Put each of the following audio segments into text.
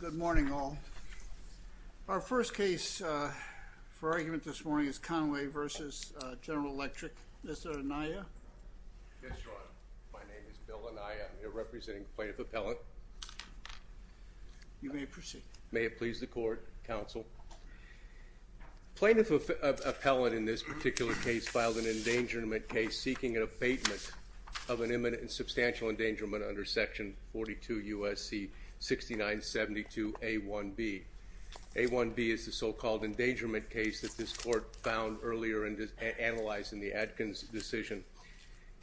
Good morning, all. Our first case for argument this morning is Conway v. General Electric. Mr. Anaya? Yes, Your Honor. My name is Bill Anaya. I'm here representing the Plaintiff Appellant. You may proceed. May it please the Court, Counsel. The Plaintiff Appellant in this particular case filed an endangerment case seeking an abatement of an imminent and substantial endangerment under Section 42 U.S.C. 6972 A.1.B. A.1.B is the so-called endangerment case that this Court found earlier and analyzed in the Adkins decision.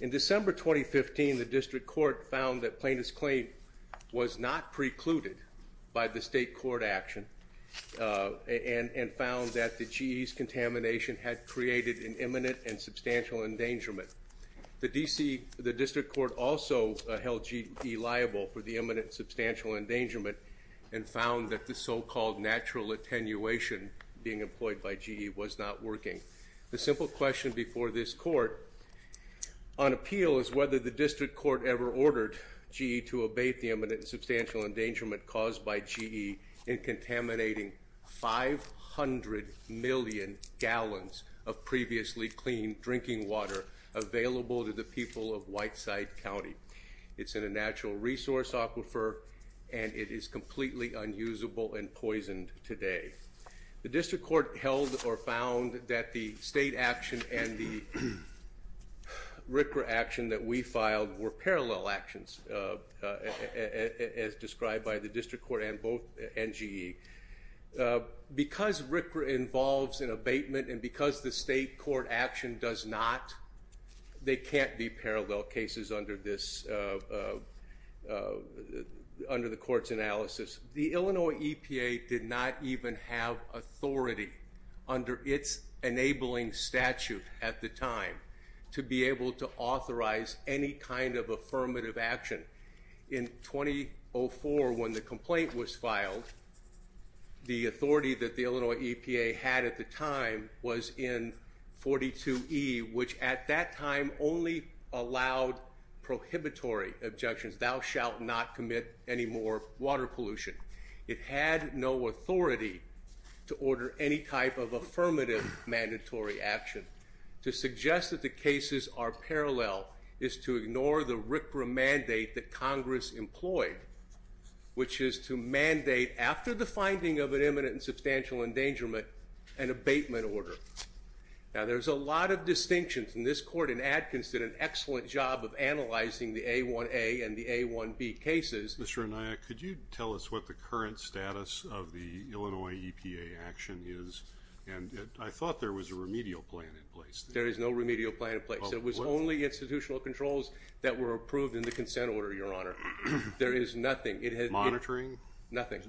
In December 2015, the District Court found that Plaintiff's claim was not precluded by the state court action and found that the GE's contamination had created an imminent and substantial endangerment. The District Court also held GE liable for the imminent and substantial endangerment and found that the so-called natural attenuation being employed by GE was not working. The simple question before this Court on appeal is whether the District Court ever ordered GE to abate the imminent and substantial endangerment caused by GE in contaminating 500 million gallons of previously clean drinking water available to the people of Whiteside County. It's in a natural resource aquifer and it is completely unusable and poisoned today. The District Court held or found that the state action and the RCRA action that we filed were parallel actions as described by the District Court and both NGE. Because RCRA involves an abatement and because the state court action does not, they can't be parallel cases under the Court's analysis. The Illinois EPA did not even have authority under its enabling statute at the time to be able to authorize any kind of affirmative action. In 2004 when the complaint was filed, the authority that the Illinois EPA had at the time was in 42E which at that time only allowed prohibitory objections. Thou shalt not commit any more water pollution. It had no authority to order any type of affirmative mandatory action. To suggest that the cases are parallel is to ignore the RCRA mandate that Congress employed which is to mandate after the finding of an imminent and substantial endangerment an abatement order. Now there's a lot of distinctions and this court in Atkins did an excellent job of analyzing the A1A and the A1B cases. Mr. Anaya, could you tell us what the current status of the Illinois EPA action is? And I thought there was a remedial plan in place. There is no remedial plan in place. It was only institutional controls that were approved in the consent order, Your Honor. There is nothing. Monitoring? Nothing.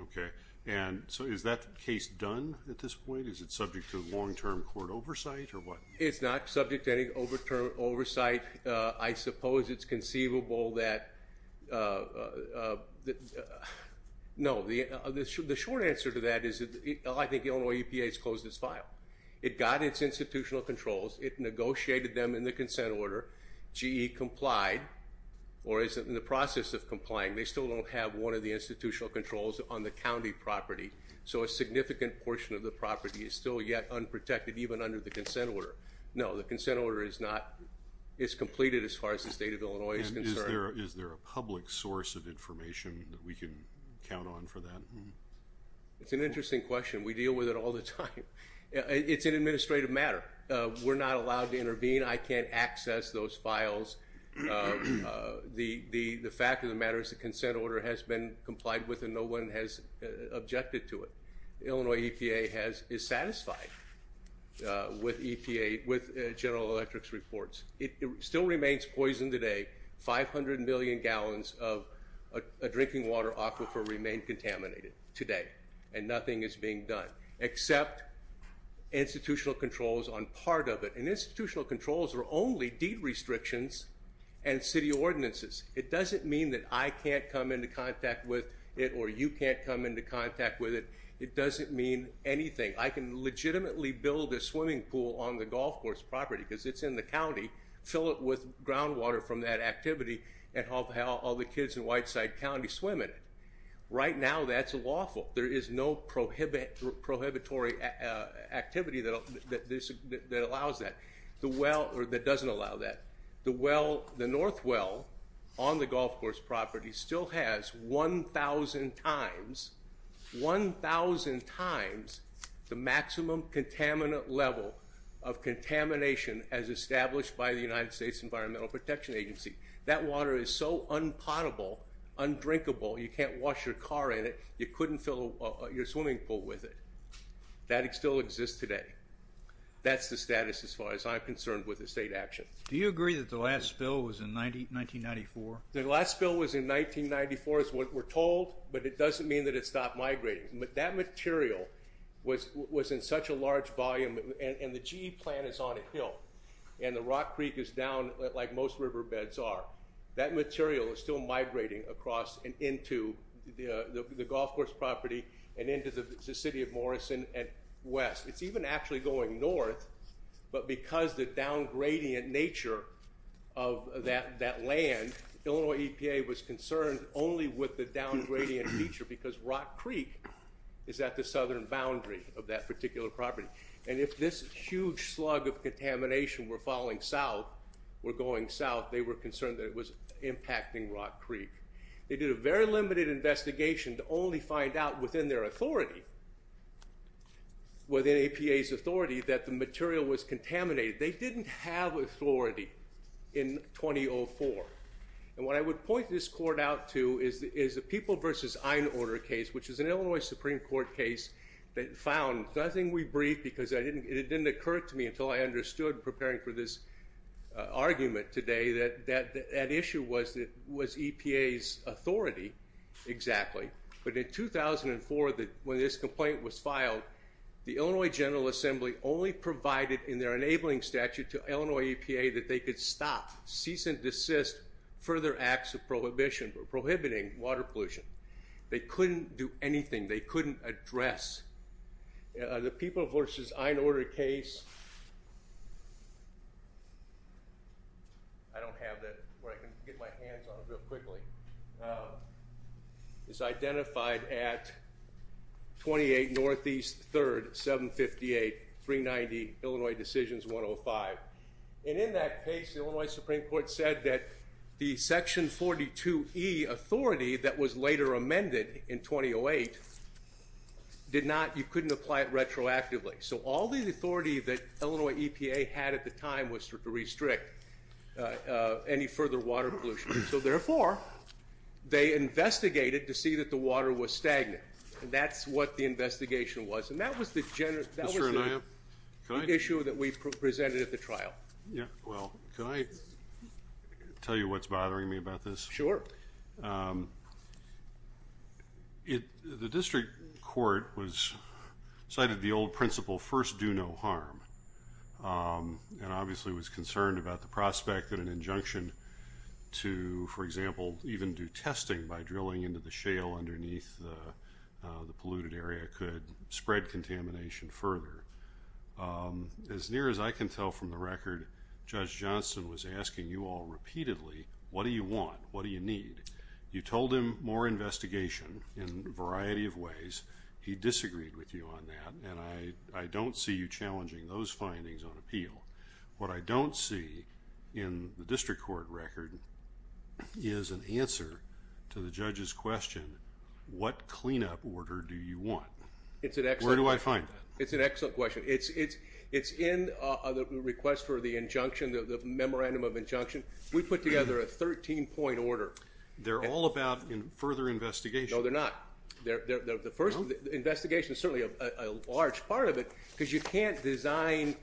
Okay. And so is that case done at this point? Is it subject to long term court oversight or what? It's not subject to any over term oversight. I suppose it's conceivable that, no, the short answer to that is I think the Illinois EPA has closed its file. It got its institutional controls. It negotiated them in the consent order. GE complied or is in the process of complying. They still don't have one of the institutional controls on the county property. So a significant portion of the property is still yet unprotected even under the consent order. No, the consent order is not. It's completed as far as the state of Illinois is concerned. And is there a public source of information that we can count on for that? It's an interesting question. We deal with it all the time. It's an administrative matter. We're not allowed to intervene. I can't access those files. The fact of the matter is the consent order has been complied with and no one has objected to it. Illinois EPA is satisfied with EPA, with General Electric's reports. It still remains poisoned today. 500 million gallons of a drinking water aquifer remain contaminated today. And nothing is being done except institutional controls on part of it. And institutional controls are only deed restrictions and city ordinances. It doesn't mean that I can't come into contact with it or you can't come into contact with it. It doesn't mean anything. I can legitimately build a swimming pool on the golf course property because it's in the county, fill it with groundwater from that activity, and have all the kids in Whiteside County swim in it. Right now that's lawful. There is no prohibitory activity that allows that, or that doesn't allow that. The north well on the golf course property still has 1,000 times, 1,000 times the maximum contaminant level of contamination as established by the United States Environmental Protection Agency. That water is so unpotable, undrinkable, you can't wash your car in it, you couldn't fill your swimming pool with it. That still exists today. That's the status as far as I'm concerned with the state action. Do you agree that the last spill was in 1994? The last spill was in 1994 is what we're told, but it doesn't mean that it stopped migrating. That material was in such a large volume, and the GE plant is on a hill, and the Rock Creek is down like most riverbeds are. That material is still migrating across and into the golf course property and into the city of Morrison and west. It's even actually going north, but because the downgradient nature of that land, Illinois EPA was concerned only with the downgradient feature because Rock Creek is at the southern boundary of that particular property. And if this huge slug of contamination were falling south, were going south, they were concerned that it was impacting Rock Creek. They did a very limited investigation to only find out within their authority, within EPA's authority, that the material was contaminated. They didn't have authority in 2004. And what I would point this court out to is the People v. Einorder case, which is an Illinois Supreme Court case that found, and I think we briefed because it didn't occur to me until I understood, preparing for this argument today, that that issue was EPA's authority exactly. But in 2004, when this complaint was filed, the Illinois General Assembly only provided in their enabling statute to Illinois EPA that they could stop, cease and desist further acts of prohibition, prohibiting water pollution. They couldn't do anything. They couldn't address. The People v. Einorder case, I don't have that where I can get my hands on it real quickly. It's identified at 28 Northeast 3rd, 758, 390, Illinois Decisions 105. And in that case, the Illinois Supreme Court said that the Section 42E authority that was later amended in 2008 did not, you couldn't apply it retroactively. So all the authority that Illinois EPA had at the time was to restrict any further water pollution. So therefore, they investigated to see that the water was stagnant, and that's what the investigation was. And that was the issue that we presented at the trial. Well, can I tell you what's bothering me about this? Sure. The district court cited the old principle, first do no harm, and obviously was concerned about the prospect that an injunction to, for example, even do testing by drilling into the shale underneath the polluted area could spread contamination further. As near as I can tell from the record, Judge Johnston was asking you all repeatedly, what do you want? What do you need? You told him more investigation in a variety of ways. He disagreed with you on that. And I don't see you challenging those findings on appeal. What I don't see in the district court record is an answer to the judge's question, what cleanup order do you want? Where do I find that? It's an excellent question. It's in the request for the injunction, the memorandum of injunction. We put together a 13-point order. They're all about further investigation. No, they're not. The first investigation is certainly a large part of it, because you can't design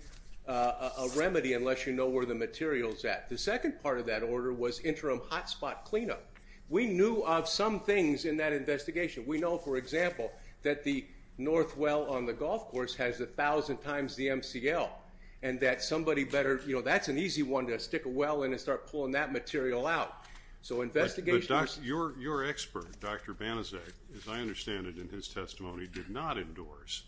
a remedy unless you know where the material is at. The second part of that order was interim hot spot cleanup. We knew of some things in that investigation. We know, for example, that the north well on the golf course has 1,000 times the MCL, and that somebody better, you know, that's an easy one to stick a well in and start pulling that material out. Your expert, Dr. Banizak, as I understand it in his testimony, did not endorse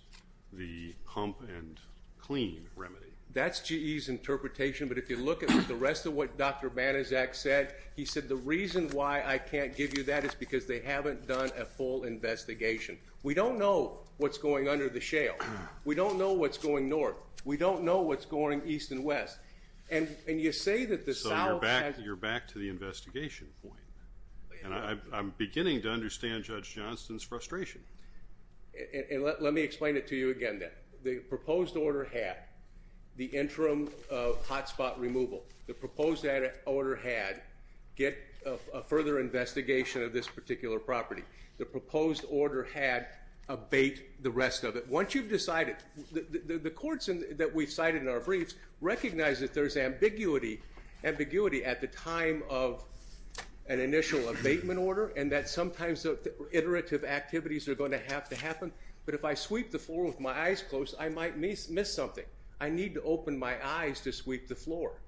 the pump and clean remedy. That's GE's interpretation. But if you look at the rest of what Dr. Banizak said, he said, the reason why I can't give you that is because they haven't done a full investigation. We don't know what's going under the shale. We don't know what's going north. We don't know what's going east and west. So you're back to the investigation point. And I'm beginning to understand Judge Johnston's frustration. And let me explain it to you again then. The proposed order had the interim hot spot removal. The proposed order had get a further investigation of this particular property. The proposed order had abate the rest of it. Once you've decided, the courts that we've cited in our briefs recognize that there's ambiguity at the time of an initial abatement order and that sometimes iterative activities are going to have to happen. But if I sweep the floor with my eyes closed, I might miss something. I need to open my eyes to sweep the floor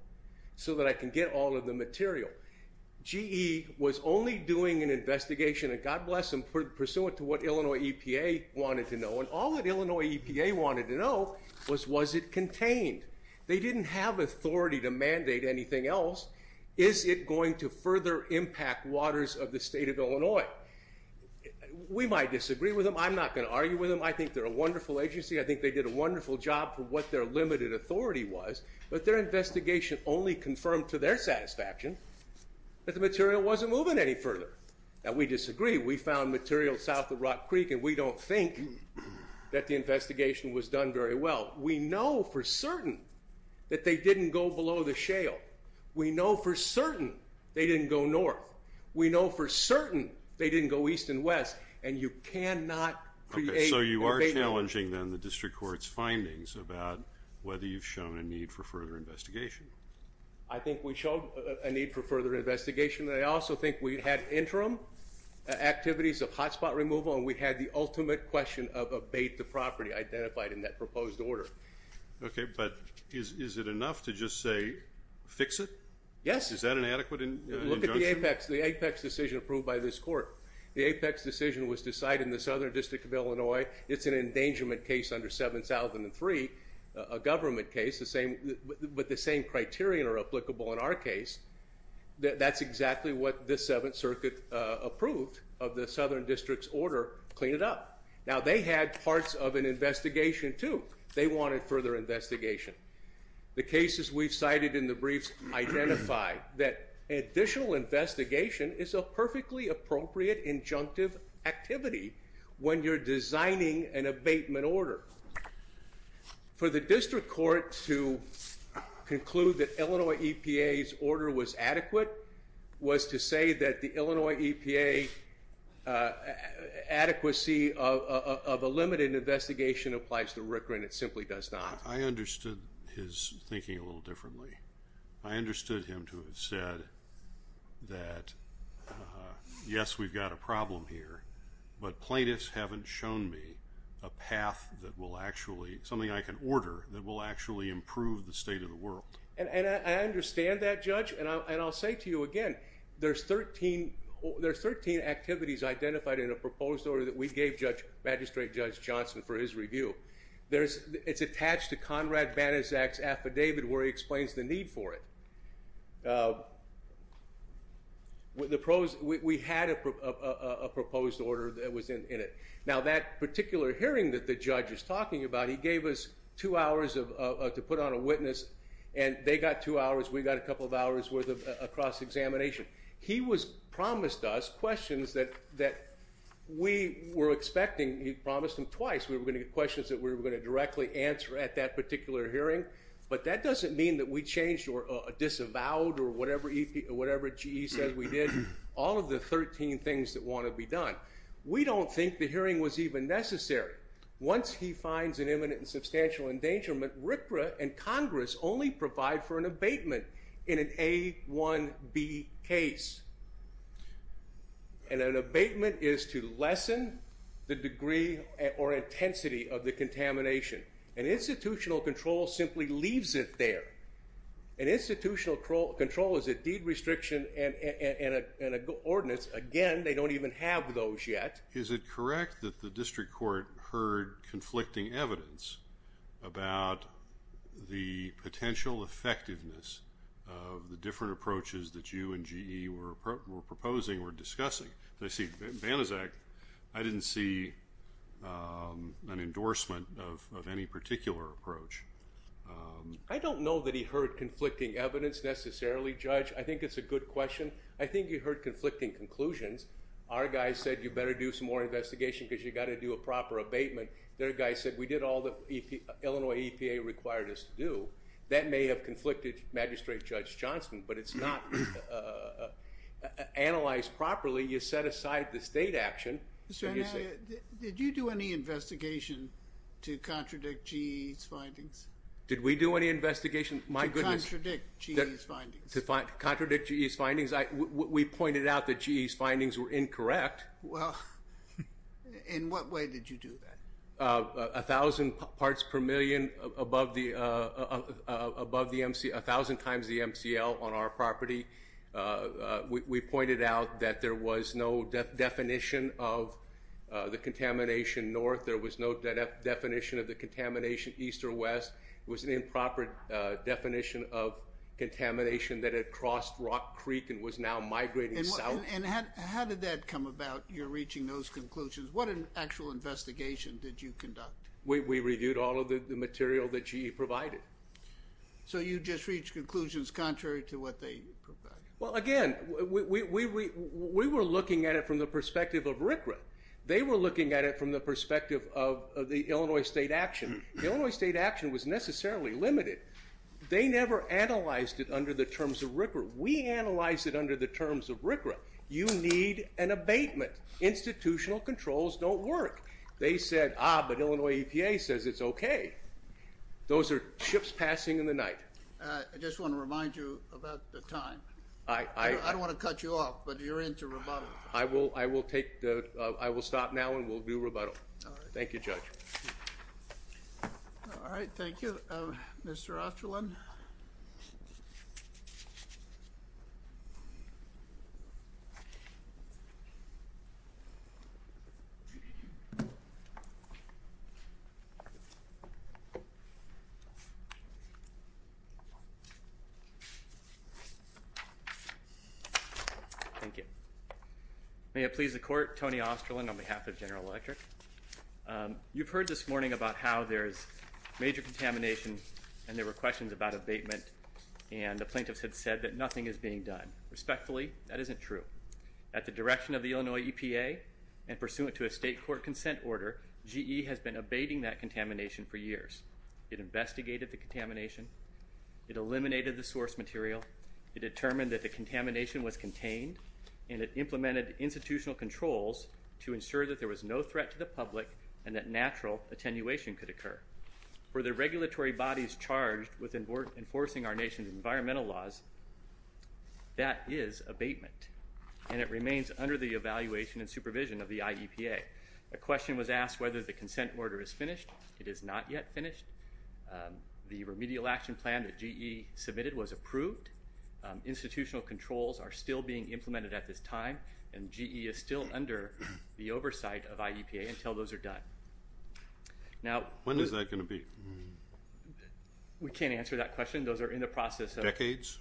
so that I can get all of the material. GE was only doing an investigation, and God bless them, pursuant to what Illinois EPA wanted to know. And all that Illinois EPA wanted to know was, was it contained? They didn't have authority to mandate anything else. Is it going to further impact waters of the state of Illinois? We might disagree with them. I'm not going to argue with them. I think they're a wonderful agency. I think they did a wonderful job for what their limited authority was, but their investigation only confirmed to their satisfaction that the material wasn't moving any further. Now, we disagree. We found material south of Rock Creek, and we don't think that the investigation was done very well. We know for certain that they didn't go below the shale. We know for certain they didn't go north. We know for certain they didn't go east and west. And you cannot create an abatement order. Okay, so you are challenging then the district court's findings about whether you've shown a need for further investigation. I think we showed a need for further investigation. I also think we had interim activities of hotspot removal, and we had the ultimate question of abate the property identified in that proposed order. Okay, but is it enough to just say fix it? Yes. Is that an adequate injunction? Look at the APEX decision approved by this court. The APEX decision was decided in the Southern District of Illinois. It's an endangerment case under 7003, a government case, but the same criterion are applicable in our case. That's exactly what the Seventh Circuit approved of the Southern District's order, clean it up. Now, they had parts of an investigation, too. They wanted further investigation. The cases we've cited in the briefs identify that additional investigation is a perfectly appropriate injunctive activity when you're designing an abatement order. For the district court to conclude that Illinois EPA's order was adequate was to say that the Illinois EPA adequacy of a limited investigation applies to RCRA and it simply does not. I understood his thinking a little differently. I understood him to have said that, yes, we've got a problem here, but plaintiffs haven't shown me a path that will actually, something I can order that will actually improve the state of the world. And I understand that, Judge, and I'll say to you again, there's 13 activities identified in a proposed order that we gave Magistrate Judge Johnson for his review. It's attached to Conrad Banaszak's affidavit where he explains the need for it. We had a proposed order that was in it. Now, that particular hearing that the judge is talking about, he gave us two hours to put on a witness, and they got two hours, we got a couple of hours worth of cross-examination. He promised us questions that we were expecting. He promised them twice we were going to get questions that we were going to directly answer at that particular hearing, but that doesn't mean that we changed or disavowed or whatever GE said we did, all of the 13 things that want to be done. We don't think the hearing was even necessary. Once he finds an imminent and substantial endangerment, RCRA and Congress only provide for an abatement in an A1B case. And an abatement is to lessen the degree or intensity of the contamination. And institutional control simply leaves it there. And institutional control is a deed restriction and an ordinance. Again, they don't even have those yet. Is it correct that the district court heard conflicting evidence about the potential effectiveness of the different approaches that you and GE were proposing or discussing? I didn't see an endorsement of any particular approach. I don't know that he heard conflicting evidence necessarily, Judge. I think it's a good question. I think he heard conflicting conclusions. Our guys said you better do some more investigation because you've got to do a proper abatement. Their guy said we did all the Illinois EPA required us to do. That may have conflicted Magistrate Judge Johnson, but it's not analyzed properly. You set aside the state action. Did you do any investigation to contradict GE's findings? Did we do any investigation, my goodness. To contradict GE's findings. To contradict GE's findings. We pointed out that GE's findings were incorrect. Well, in what way did you do that? A thousand parts per million above the MC, a thousand times the MCL on our property. We pointed out that there was no definition of the contamination north. There was no definition of the contamination east or west. It was an improper definition of contamination that had crossed Rock Creek and was now migrating south. And how did that come about, your reaching those conclusions? What actual investigation did you conduct? We reviewed all of the material that GE provided. So you just reached conclusions contrary to what they provided? Well, again, we were looking at it from the perspective of RCRA. They were looking at it from the perspective of the Illinois state action. The Illinois state action was necessarily limited. They never analyzed it under the terms of RCRA. We analyzed it under the terms of RCRA. You need an abatement. Institutional controls don't work. They said, ah, but Illinois EPA says it's okay. Those are chips passing in the night. I just want to remind you about the time. I don't want to cut you off, but you're into rebuttal. I will stop now and we'll do rebuttal. Thank you, Judge. All right, thank you, Mr. Osterlin. Thank you. May it please the Court, Tony Osterlin on behalf of General Electric. You've heard this morning about how there's major contamination and there were questions about abatement, and the plaintiffs had said that nothing is being done. Respectfully, that isn't true. At the direction of the Illinois EPA and pursuant to a state court consent order, GE has been abating that contamination for years. It investigated the contamination. It eliminated the source material. It determined that the contamination was contained, and it implemented institutional controls to ensure that there was no threat to the public and that natural attenuation could occur. For the regulatory bodies charged with enforcing our nation's environmental laws, that is abatement, and it remains under the evaluation and supervision of the IEPA. A question was asked whether the consent order is finished. It is not yet finished. The remedial action plan that GE submitted was approved. Institutional controls are still being implemented at this time, and GE is still under the oversight of IEPA until those are done. When is that going to be? We can't answer that question. Those are in the process of Decades?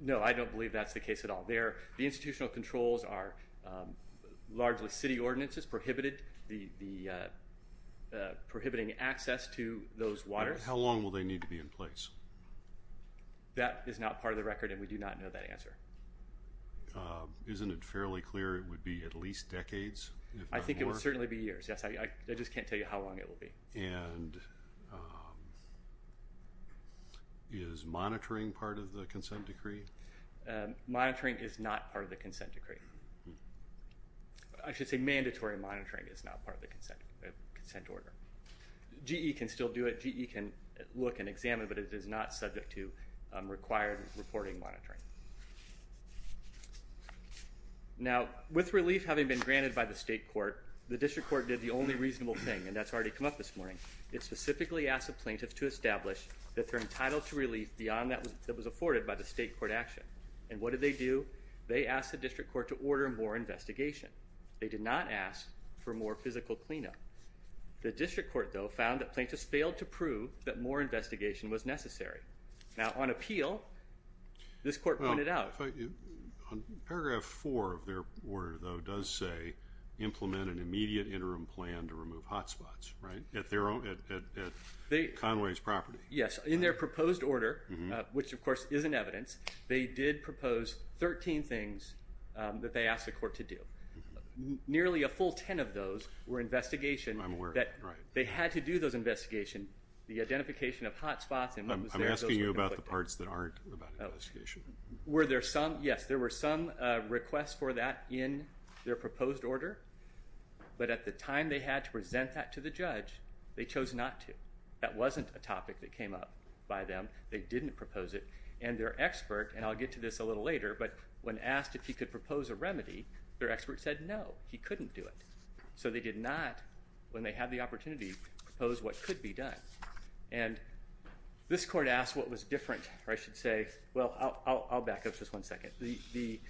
No, I don't believe that's the case at all. The institutional controls are largely city ordinances, prohibiting access to those waters. How long will they need to be in place? That is not part of the record, and we do not know that answer. Isn't it fairly clear it would be at least decades? I think it would certainly be years, yes. I just can't tell you how long it will be. And is monitoring part of the consent decree? Monitoring is not part of the consent decree. I should say mandatory monitoring is not part of the consent order. GE can still do it. GE can look and examine, but it is not subject to required reporting monitoring. Now, with relief having been granted by the state court, the district court did the only reasonable thing, and that's already come up this morning. It specifically asked the plaintiffs to establish that they're entitled to relief beyond that was afforded by the state court action. And what did they do? They asked the district court to order more investigation. They did not ask for more physical cleanup. The district court, though, found that plaintiffs failed to prove that more investigation was necessary. Now, on appeal, this court pointed out. Paragraph 4 of their order, though, does say implement an immediate interim plan to remove hot spots, right, at Conway's property. Yes. In their proposed order, which, of course, is in evidence, they did propose 13 things that they asked the court to do. Nearly a full 10 of those were investigation. I'm aware of that, right. They had to do those investigations, the identification of hot spots and what was there. I'm asking you about the parts that aren't about investigation. Were there some? Yes, there were some requests for that in their proposed order. But at the time they had to present that to the judge, they chose not to. That wasn't a topic that came up by them. They didn't propose it. And their expert, and I'll get to this a little later, but when asked if he could propose a remedy, their expert said no, he couldn't do it. So they did not, when they had the opportunity, propose what could be done. And this court asked what was different, or I should say, well, I'll back up just one second. The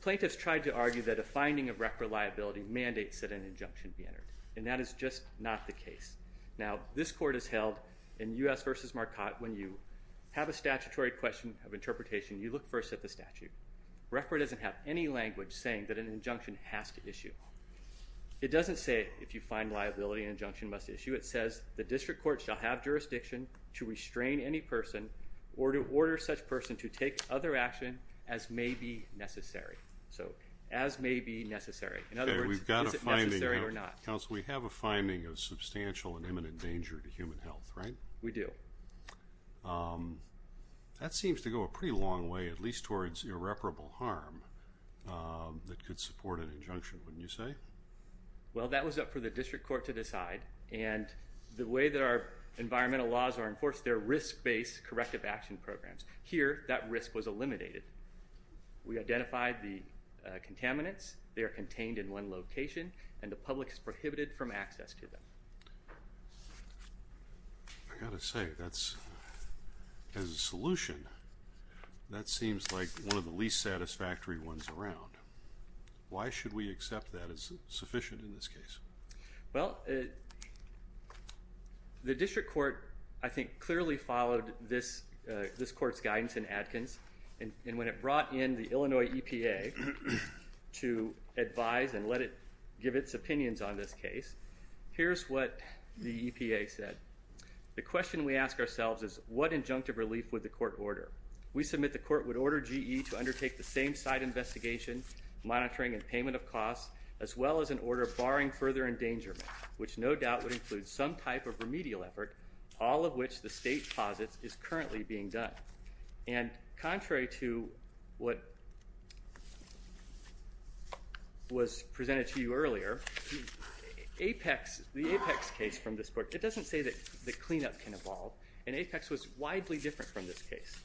plaintiffs tried to argue that a finding of record liability mandates that an injunction be entered, and that is just not the case. Now, this court has held in U.S. v. Marcotte, when you have a statutory question of interpretation, you look first at the statute. Record doesn't have any language saying that an injunction has to issue. It doesn't say if you find liability, an injunction must issue. It says the district court shall have jurisdiction to restrain any person or to order such person to take other action as may be necessary. So as may be necessary. In other words, is it necessary or not. Okay, we've got a finding. Counsel, we have a finding of substantial and imminent danger to human health, right? We do. That seems to go a pretty long way, at least towards irreparable harm, that could support an injunction, wouldn't you say? Well, that was up for the district court to decide. And the way that our environmental laws are enforced, they're risk-based corrective action programs. Here, that risk was eliminated. We identified the contaminants. They are contained in one location, and the public is prohibited from access to them. I've got to say, as a solution, that seems like one of the least satisfactory ones around. Why should we accept that as sufficient in this case? Well, the district court, I think, clearly followed this court's guidance in Adkins. And when it brought in the Illinois EPA to advise and let it give its opinions on this case, here's what the EPA said. The question we ask ourselves is, what injunctive relief would the court order? We submit the court would order GE to undertake the same side investigation, monitoring and payment of costs, as well as an order barring further endangerment, which no doubt would include some type of remedial effort, all of which the state posits is currently being done. And contrary to what was presented to you earlier, the Apex case from this court, it doesn't say that the cleanup can evolve, and Apex was widely different from this case.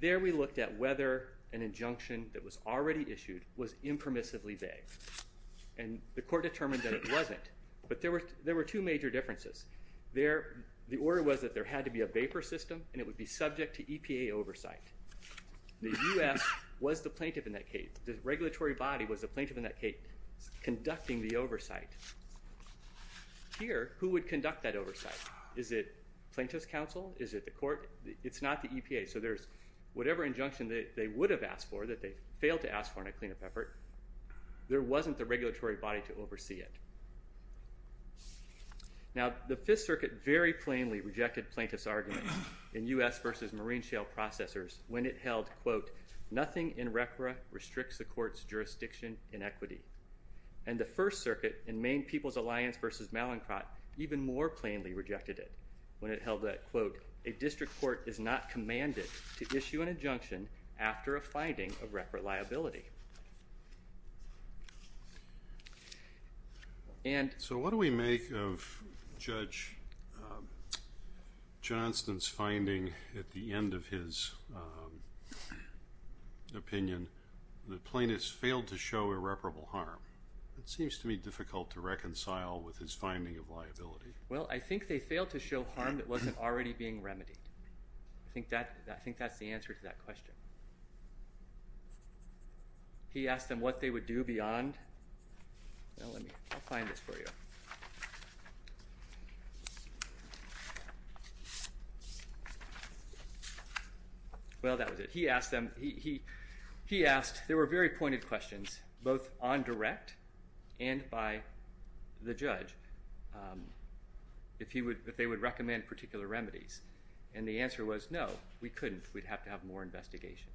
There we looked at whether an injunction that was already issued was impermissibly vague. And the court determined that it wasn't. But there were two major differences. The order was that there had to be a vapor system, and it would be subject to EPA oversight. The U.S. was the plaintiff in that case. The regulatory body was the plaintiff in that case conducting the oversight. Here, who would conduct that oversight? Is it plaintiff's counsel? Is it the court? It's not the EPA. So there's whatever injunction that they would have asked for that they failed to ask for in a cleanup effort, there wasn't the regulatory body to oversee it. Now, the Fifth Circuit very plainly rejected plaintiff's argument in U.S. v. Marine Shale Processors when it held, quote, nothing in RCRA restricts the court's jurisdiction in equity. And the First Circuit in Maine People's Alliance v. Mallincott even more plainly rejected it when it held that, quote, a district court is not commanded to issue an injunction after a finding of reparate liability. So what do we make of Judge Johnston's finding at the end of his opinion that plaintiffs failed to show irreparable harm? It seems to me difficult to reconcile with his finding of liability. Well, I think they failed to show harm that wasn't already being remedied. I think that's the answer to that question. He asked them what they would do beyond. I'll find this for you. Well, that was it. He asked, there were very pointed questions, both on direct and by the judge, if they would recommend particular remedies. And the answer was no, we couldn't. We'd have to have more investigation.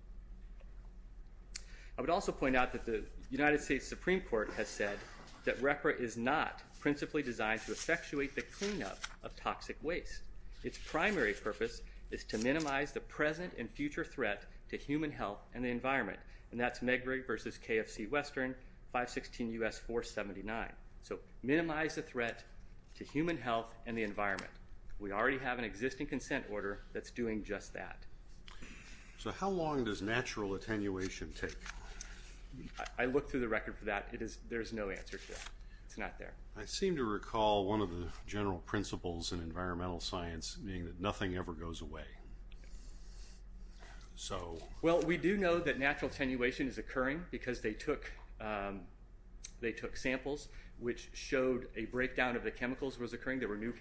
I would also point out that the United States Supreme Court has said that RCRA is not principally designed to effectuate the cleanup of toxic waste. Its primary purpose is to minimize the present and future threat to human health and the environment, and that's Medgar versus KFC Western, 516 U.S. 479. So minimize the threat to human health and the environment. We already have an existing consent order that's doing just that. So how long does natural attenuation take? I looked through the record for that. There's no answer to that. It's not there. I seem to recall one of the general principles in environmental science being that nothing ever goes away. Well, we do know that natural attenuation is occurring because they took samples, which showed a breakdown of the chemicals was occurring. There were new,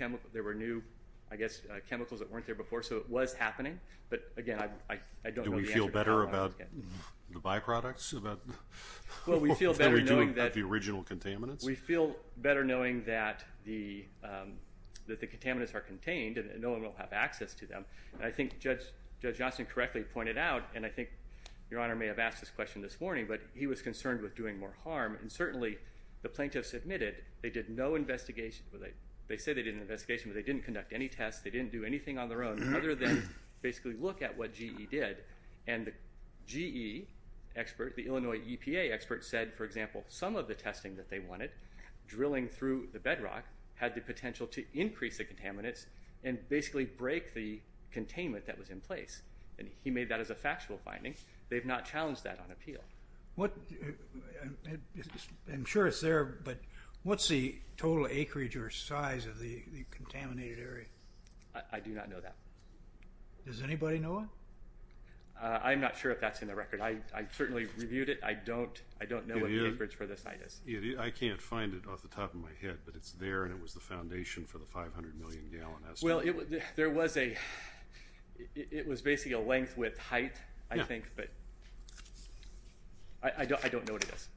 I guess, chemicals that weren't there before, so it was happening. But, again, I don't know the answer to that. Do we feel better about the byproducts? We feel better knowing that the contaminants are contained and no one will have access to them. I think Judge Johnston correctly pointed out, and I think Your Honor may have asked this question this morning, but he was concerned with doing more harm, and certainly the plaintiffs admitted they did no investigation. They said they did an investigation, but they didn't conduct any tests. They didn't do anything on their own other than basically look at what GE did. And the GE expert, the Illinois EPA expert, said, for example, some of the testing that they wanted, drilling through the bedrock, had the potential to increase the contaminants and basically break the containment that was in place. And he made that as a factual finding. They've not challenged that on appeal. I'm sure it's there, but what's the total acreage or size of the contaminated area? I do not know that. Does anybody know it? I'm not sure if that's in the record. I certainly reviewed it. I don't know what the acreage for this site is. I can't find it off the top of my head, but it's there, and it was the foundation for the 500 million gallon estimate. Well, it was basically a length with height, I think, but I don't know what it is.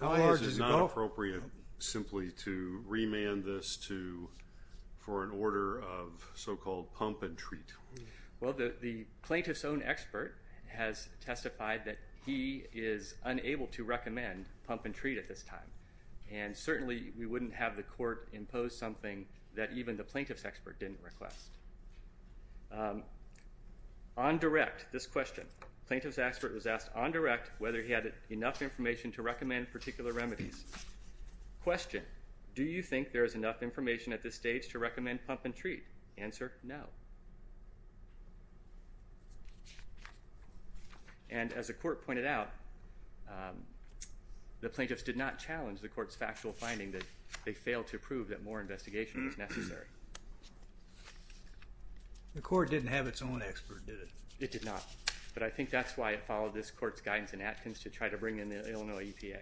How large is it going? How large is it not appropriate simply to remand this for an order of so-called pump and treat? Well, the plaintiff's own expert has testified that he is unable to recommend pump and treat at this time, and certainly we wouldn't have the court impose something that even the plaintiff's expert didn't request. On direct, this question, plaintiff's expert was asked on direct whether he had enough information to recommend particular remedies. Question, do you think there is enough information at this stage to recommend pump and treat? Answer, no. And as the court pointed out, the plaintiffs did not challenge the court's factual finding that they failed to prove that more investigation was necessary. The court didn't have its own expert, did it? It did not, but I think that's why it followed this court's guidance in Atkins to try to bring in the Illinois EPA.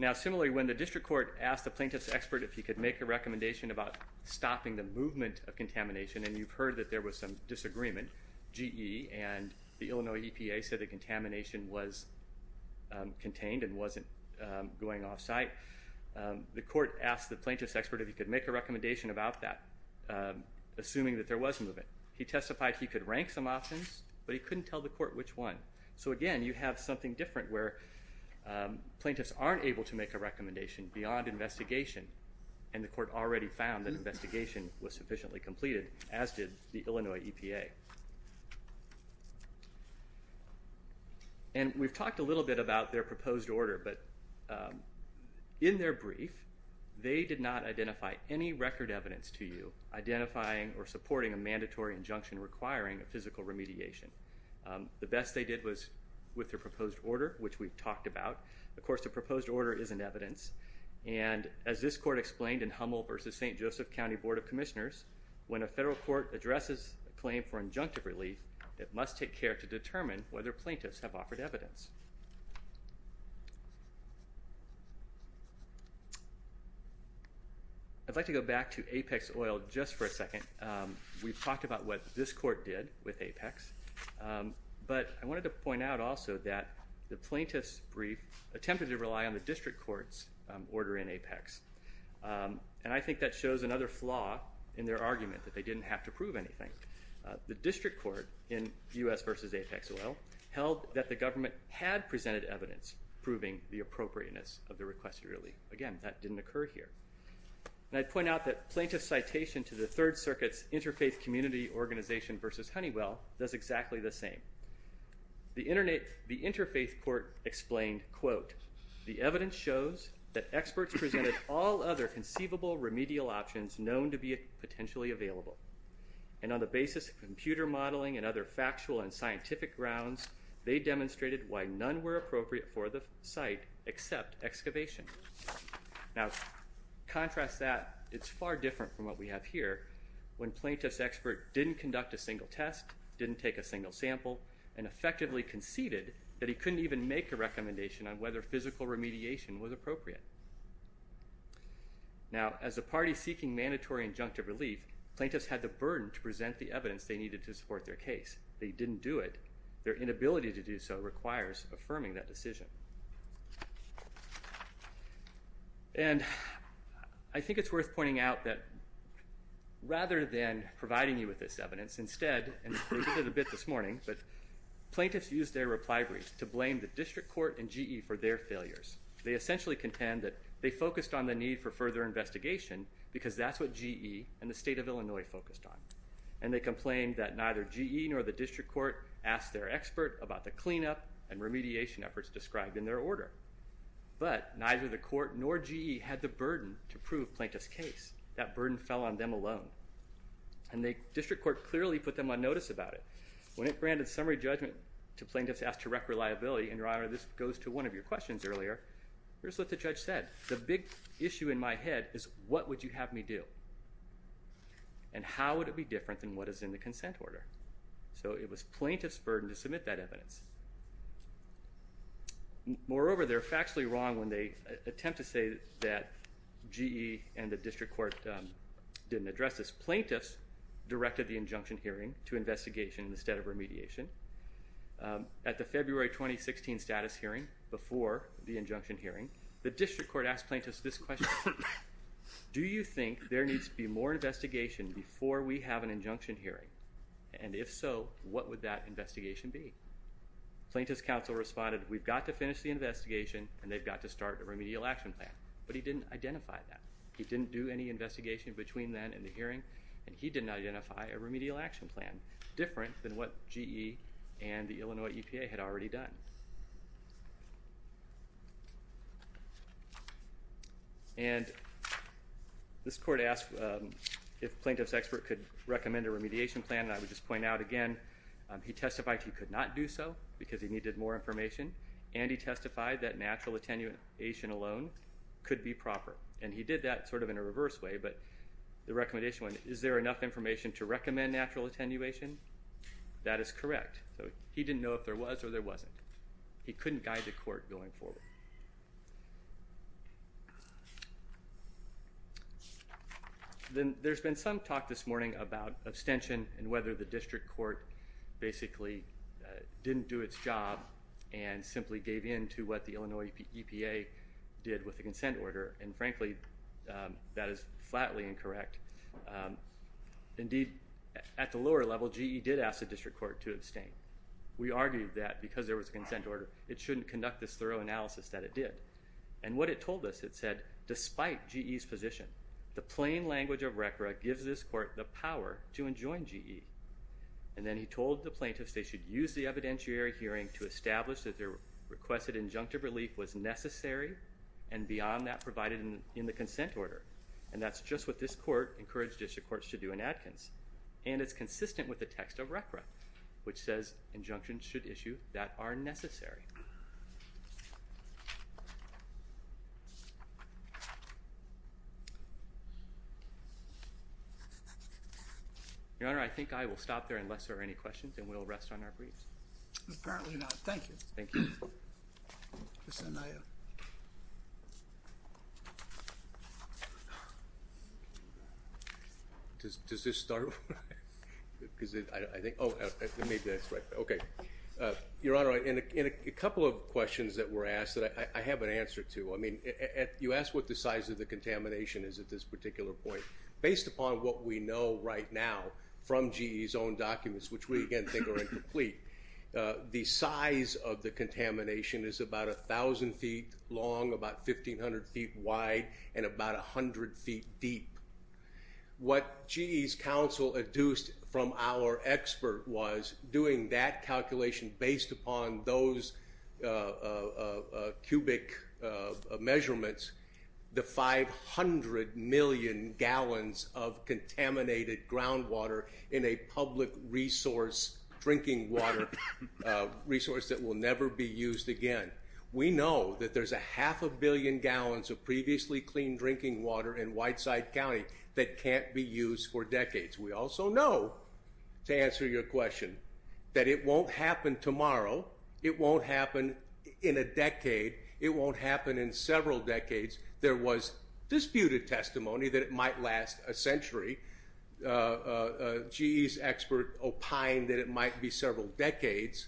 Now, similarly, when the district court asked the plaintiff's expert if he could make a recommendation about stopping the movement of contamination, and you've heard that there was some disagreement, GE and the Illinois EPA said the contamination was contained and wasn't going offsite. The court asked the plaintiff's expert if he could make a recommendation about that, assuming that there was movement. He testified he could rank some options, but he couldn't tell the court which one. So again, you have something different where plaintiffs aren't able to make a recommendation beyond investigation, and the court already found that investigation was sufficiently completed, as did the Illinois EPA. And we've talked a little bit about their proposed order, but in their brief, they did not identify any record evidence to you identifying or supporting a mandatory injunction requiring a physical remediation. The best they did was with their proposed order, which we've talked about. Of course, the proposed order isn't evidence. And as this court explained in Hummel v. St. Joseph County Board of Commissioners, when a federal court addresses a claim for injunctive relief, it must take care to determine whether plaintiffs have offered evidence. I'd like to go back to Apex Oil just for a second. We've talked about what this court did with Apex, but I wanted to point out also that the plaintiff's brief attempted to rely on the district court's order in Apex, and I think that shows another flaw in their argument, that they didn't have to prove anything. The district court in U.S. v. Apex Oil held that the government had presented evidence proving the appropriateness of the requested relief. Again, that didn't occur here. And I'd point out that plaintiff's citation to the Third Circuit's Interfaith Community Organization v. Honeywell does exactly the same. The Interfaith Court explained, quote, the evidence shows that experts presented all other conceivable remedial options known to be potentially available. And on the basis of computer modeling and other factual and scientific grounds, they demonstrated why none were appropriate for the site except excavation. Now, contrast that, it's far different from what we have here. When plaintiff's expert didn't conduct a single test, didn't take a single sample, and effectively conceded that he couldn't even make a recommendation on whether physical remediation was appropriate. Now, as a party seeking mandatory injunctive relief, plaintiffs had the burden to present the evidence they needed to support their case. They didn't do it. Their inability to do so requires affirming that decision. And I think it's worth pointing out that rather than providing you with this evidence, instead, and we did a bit this morning, but plaintiffs used their reply brief to blame the district court and GE for their failures. They essentially contend that they focused on the need for further investigation because that's what GE and the state of Illinois focused on. And they complained that neither GE nor the district court asked their expert about the cleanup and remediation efforts described in their order. But neither the court nor GE had the burden to prove plaintiff's case. That burden fell on them alone. And the district court clearly put them on notice about it. When it granted summary judgment to plaintiff's asked direct reliability, and, Your Honor, this goes to one of your questions earlier, here's what the judge said. The big issue in my head is what would you have me do? And how would it be different than what is in the consent order? So it was plaintiff's burden to submit that evidence. Moreover, they're factually wrong when they attempt to say that GE and the district court didn't address this. Plaintiffs directed the injunction hearing to investigation instead of remediation. At the February 2016 status hearing, before the injunction hearing, the district court asked plaintiffs this question. Do you think there needs to be more investigation before we have an injunction hearing? And if so, what would that investigation be? Plaintiff's counsel responded, we've got to finish the investigation and they've got to start a remedial action plan. But he didn't identify that. He didn't do any investigation between then and the hearing, and he didn't identify a remedial action plan, different than what GE and the Illinois EPA had already done. And this court asked if plaintiff's expert could recommend a remediation plan, and I would just point out again, he testified he could not do so because he needed more information, and he testified that natural attenuation alone could be proper. And he did that sort of in a reverse way, but the recommendation went, is there enough information to recommend natural attenuation? That is correct. So he didn't know if there was or there wasn't. He couldn't guide the court going forward. Then there's been some talk this morning about abstention and whether the district court basically didn't do its job and simply gave in to what the Illinois EPA did with the consent order, and frankly, that is flatly incorrect. Indeed, at the lower level, GE did ask the district court to abstain. We argued that because there was a consent order, it shouldn't conduct this thorough analysis that it did. And what it told us, it said, despite GE's position, the plain language of RCRA gives this court the power to enjoin GE. And then he told the plaintiffs they should use the evidentiary hearing to establish that their requested injunctive relief was necessary and beyond that provided in the consent order. And that's just what this court encouraged district courts to do in Adkins. And it's consistent with the text of RCRA, which says injunctions should issue that are necessary. Your Honor, I think I will stop there unless there are any questions, and we'll rest on our briefs. Apparently not. Thank you. Thank you. Mr. Anaya. Does this start? Oh, maybe that's right. Okay. Your Honor, in a couple of questions that were asked that I have an answer to. You asked what the size of the contamination is at this particular point. Based upon what we know right now from GE's own documents, which we, again, think are incomplete, the size of the contamination is about 1,000 feet long, about 1,500 feet wide, and about 100 feet deep. What GE's counsel adduced from our expert was, doing that calculation based upon those cubic measurements, the 500 million gallons of contaminated groundwater in a public resource, drinking water resource, that will never be used again. We know that there's a half a billion gallons of previously clean drinking water in Whiteside County that can't be used for decades. We also know, to answer your question, that it won't happen tomorrow. It won't happen in a decade. It won't happen in several decades. There was disputed testimony that it might last a century. GE's expert opined that it might be several decades.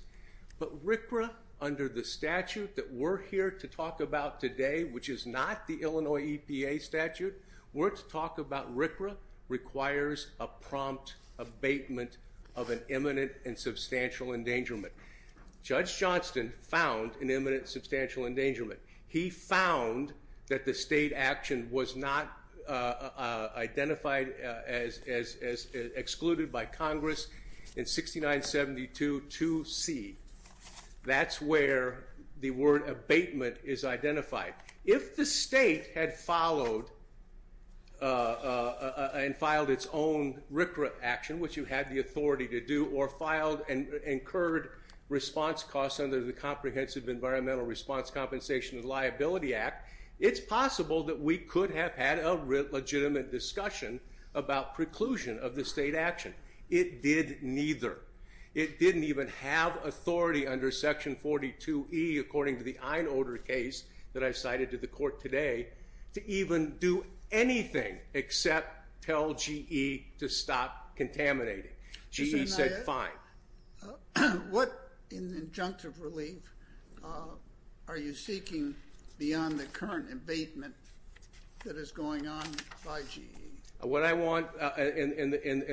But RCRA, under the statute that we're here to talk about today, which is not the Illinois EPA statute, we're to talk about RCRA requires a prompt abatement of an imminent and substantial endangerment. Judge Johnston found an imminent substantial endangerment. He found that the state action was not identified as excluded by Congress in 6972-2C. That's where the word abatement is identified. If the state had followed and filed its own RCRA action, which you had the authority to do, or filed and incurred response costs under the Comprehensive Environmental Response Compensation and Liability Act, it's possible that we could have had a legitimate discussion about preclusion of the state action. It did neither. It didn't even have authority under Section 42E, according to the Einolder case that I cited to the court today, to even do anything except tell GE to stop contaminating. GE said fine. What in the injunctive relief are you seeking beyond the current abatement that is going on by GE? What I want in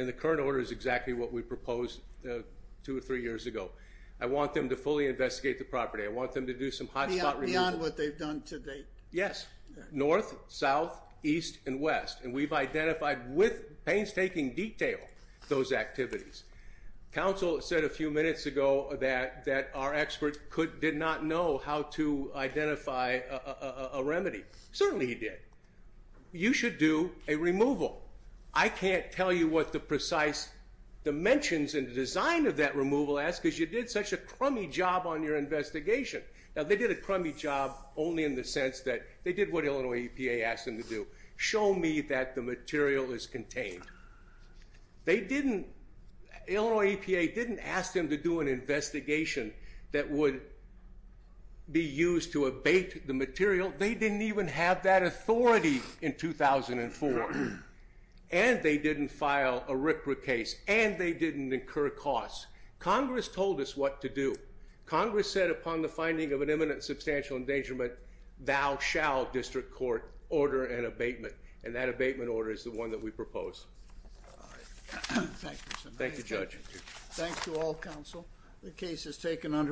the current order is exactly what we proposed two or three years ago. I want them to fully investigate the property. I want them to do some hot spot relief. Beyond what they've done to date? Yes. North, south, east, and west. And we've identified with painstaking detail those activities. Counsel said a few minutes ago that our expert did not know how to identify a remedy. Certainly he did. You should do a removal. I can't tell you what the precise dimensions and design of that removal is because you did such a crummy job on your investigation. Now, they did a crummy job only in the sense that they did what Illinois EPA asked them to do, show me that the material is contained. Illinois EPA didn't ask them to do an investigation that would be used to abate the material. They didn't even have that authority in 2004. And they didn't file a RCRA case. And they didn't incur costs. Congress told us what to do. Congress said upon the finding of an imminent substantial endangerment, thou shall, district court, order an abatement. And that abatement order is the one that we propose. All right. Thank you, Senator. Thank you, Judge. Thank you. The case is taken under adjournment.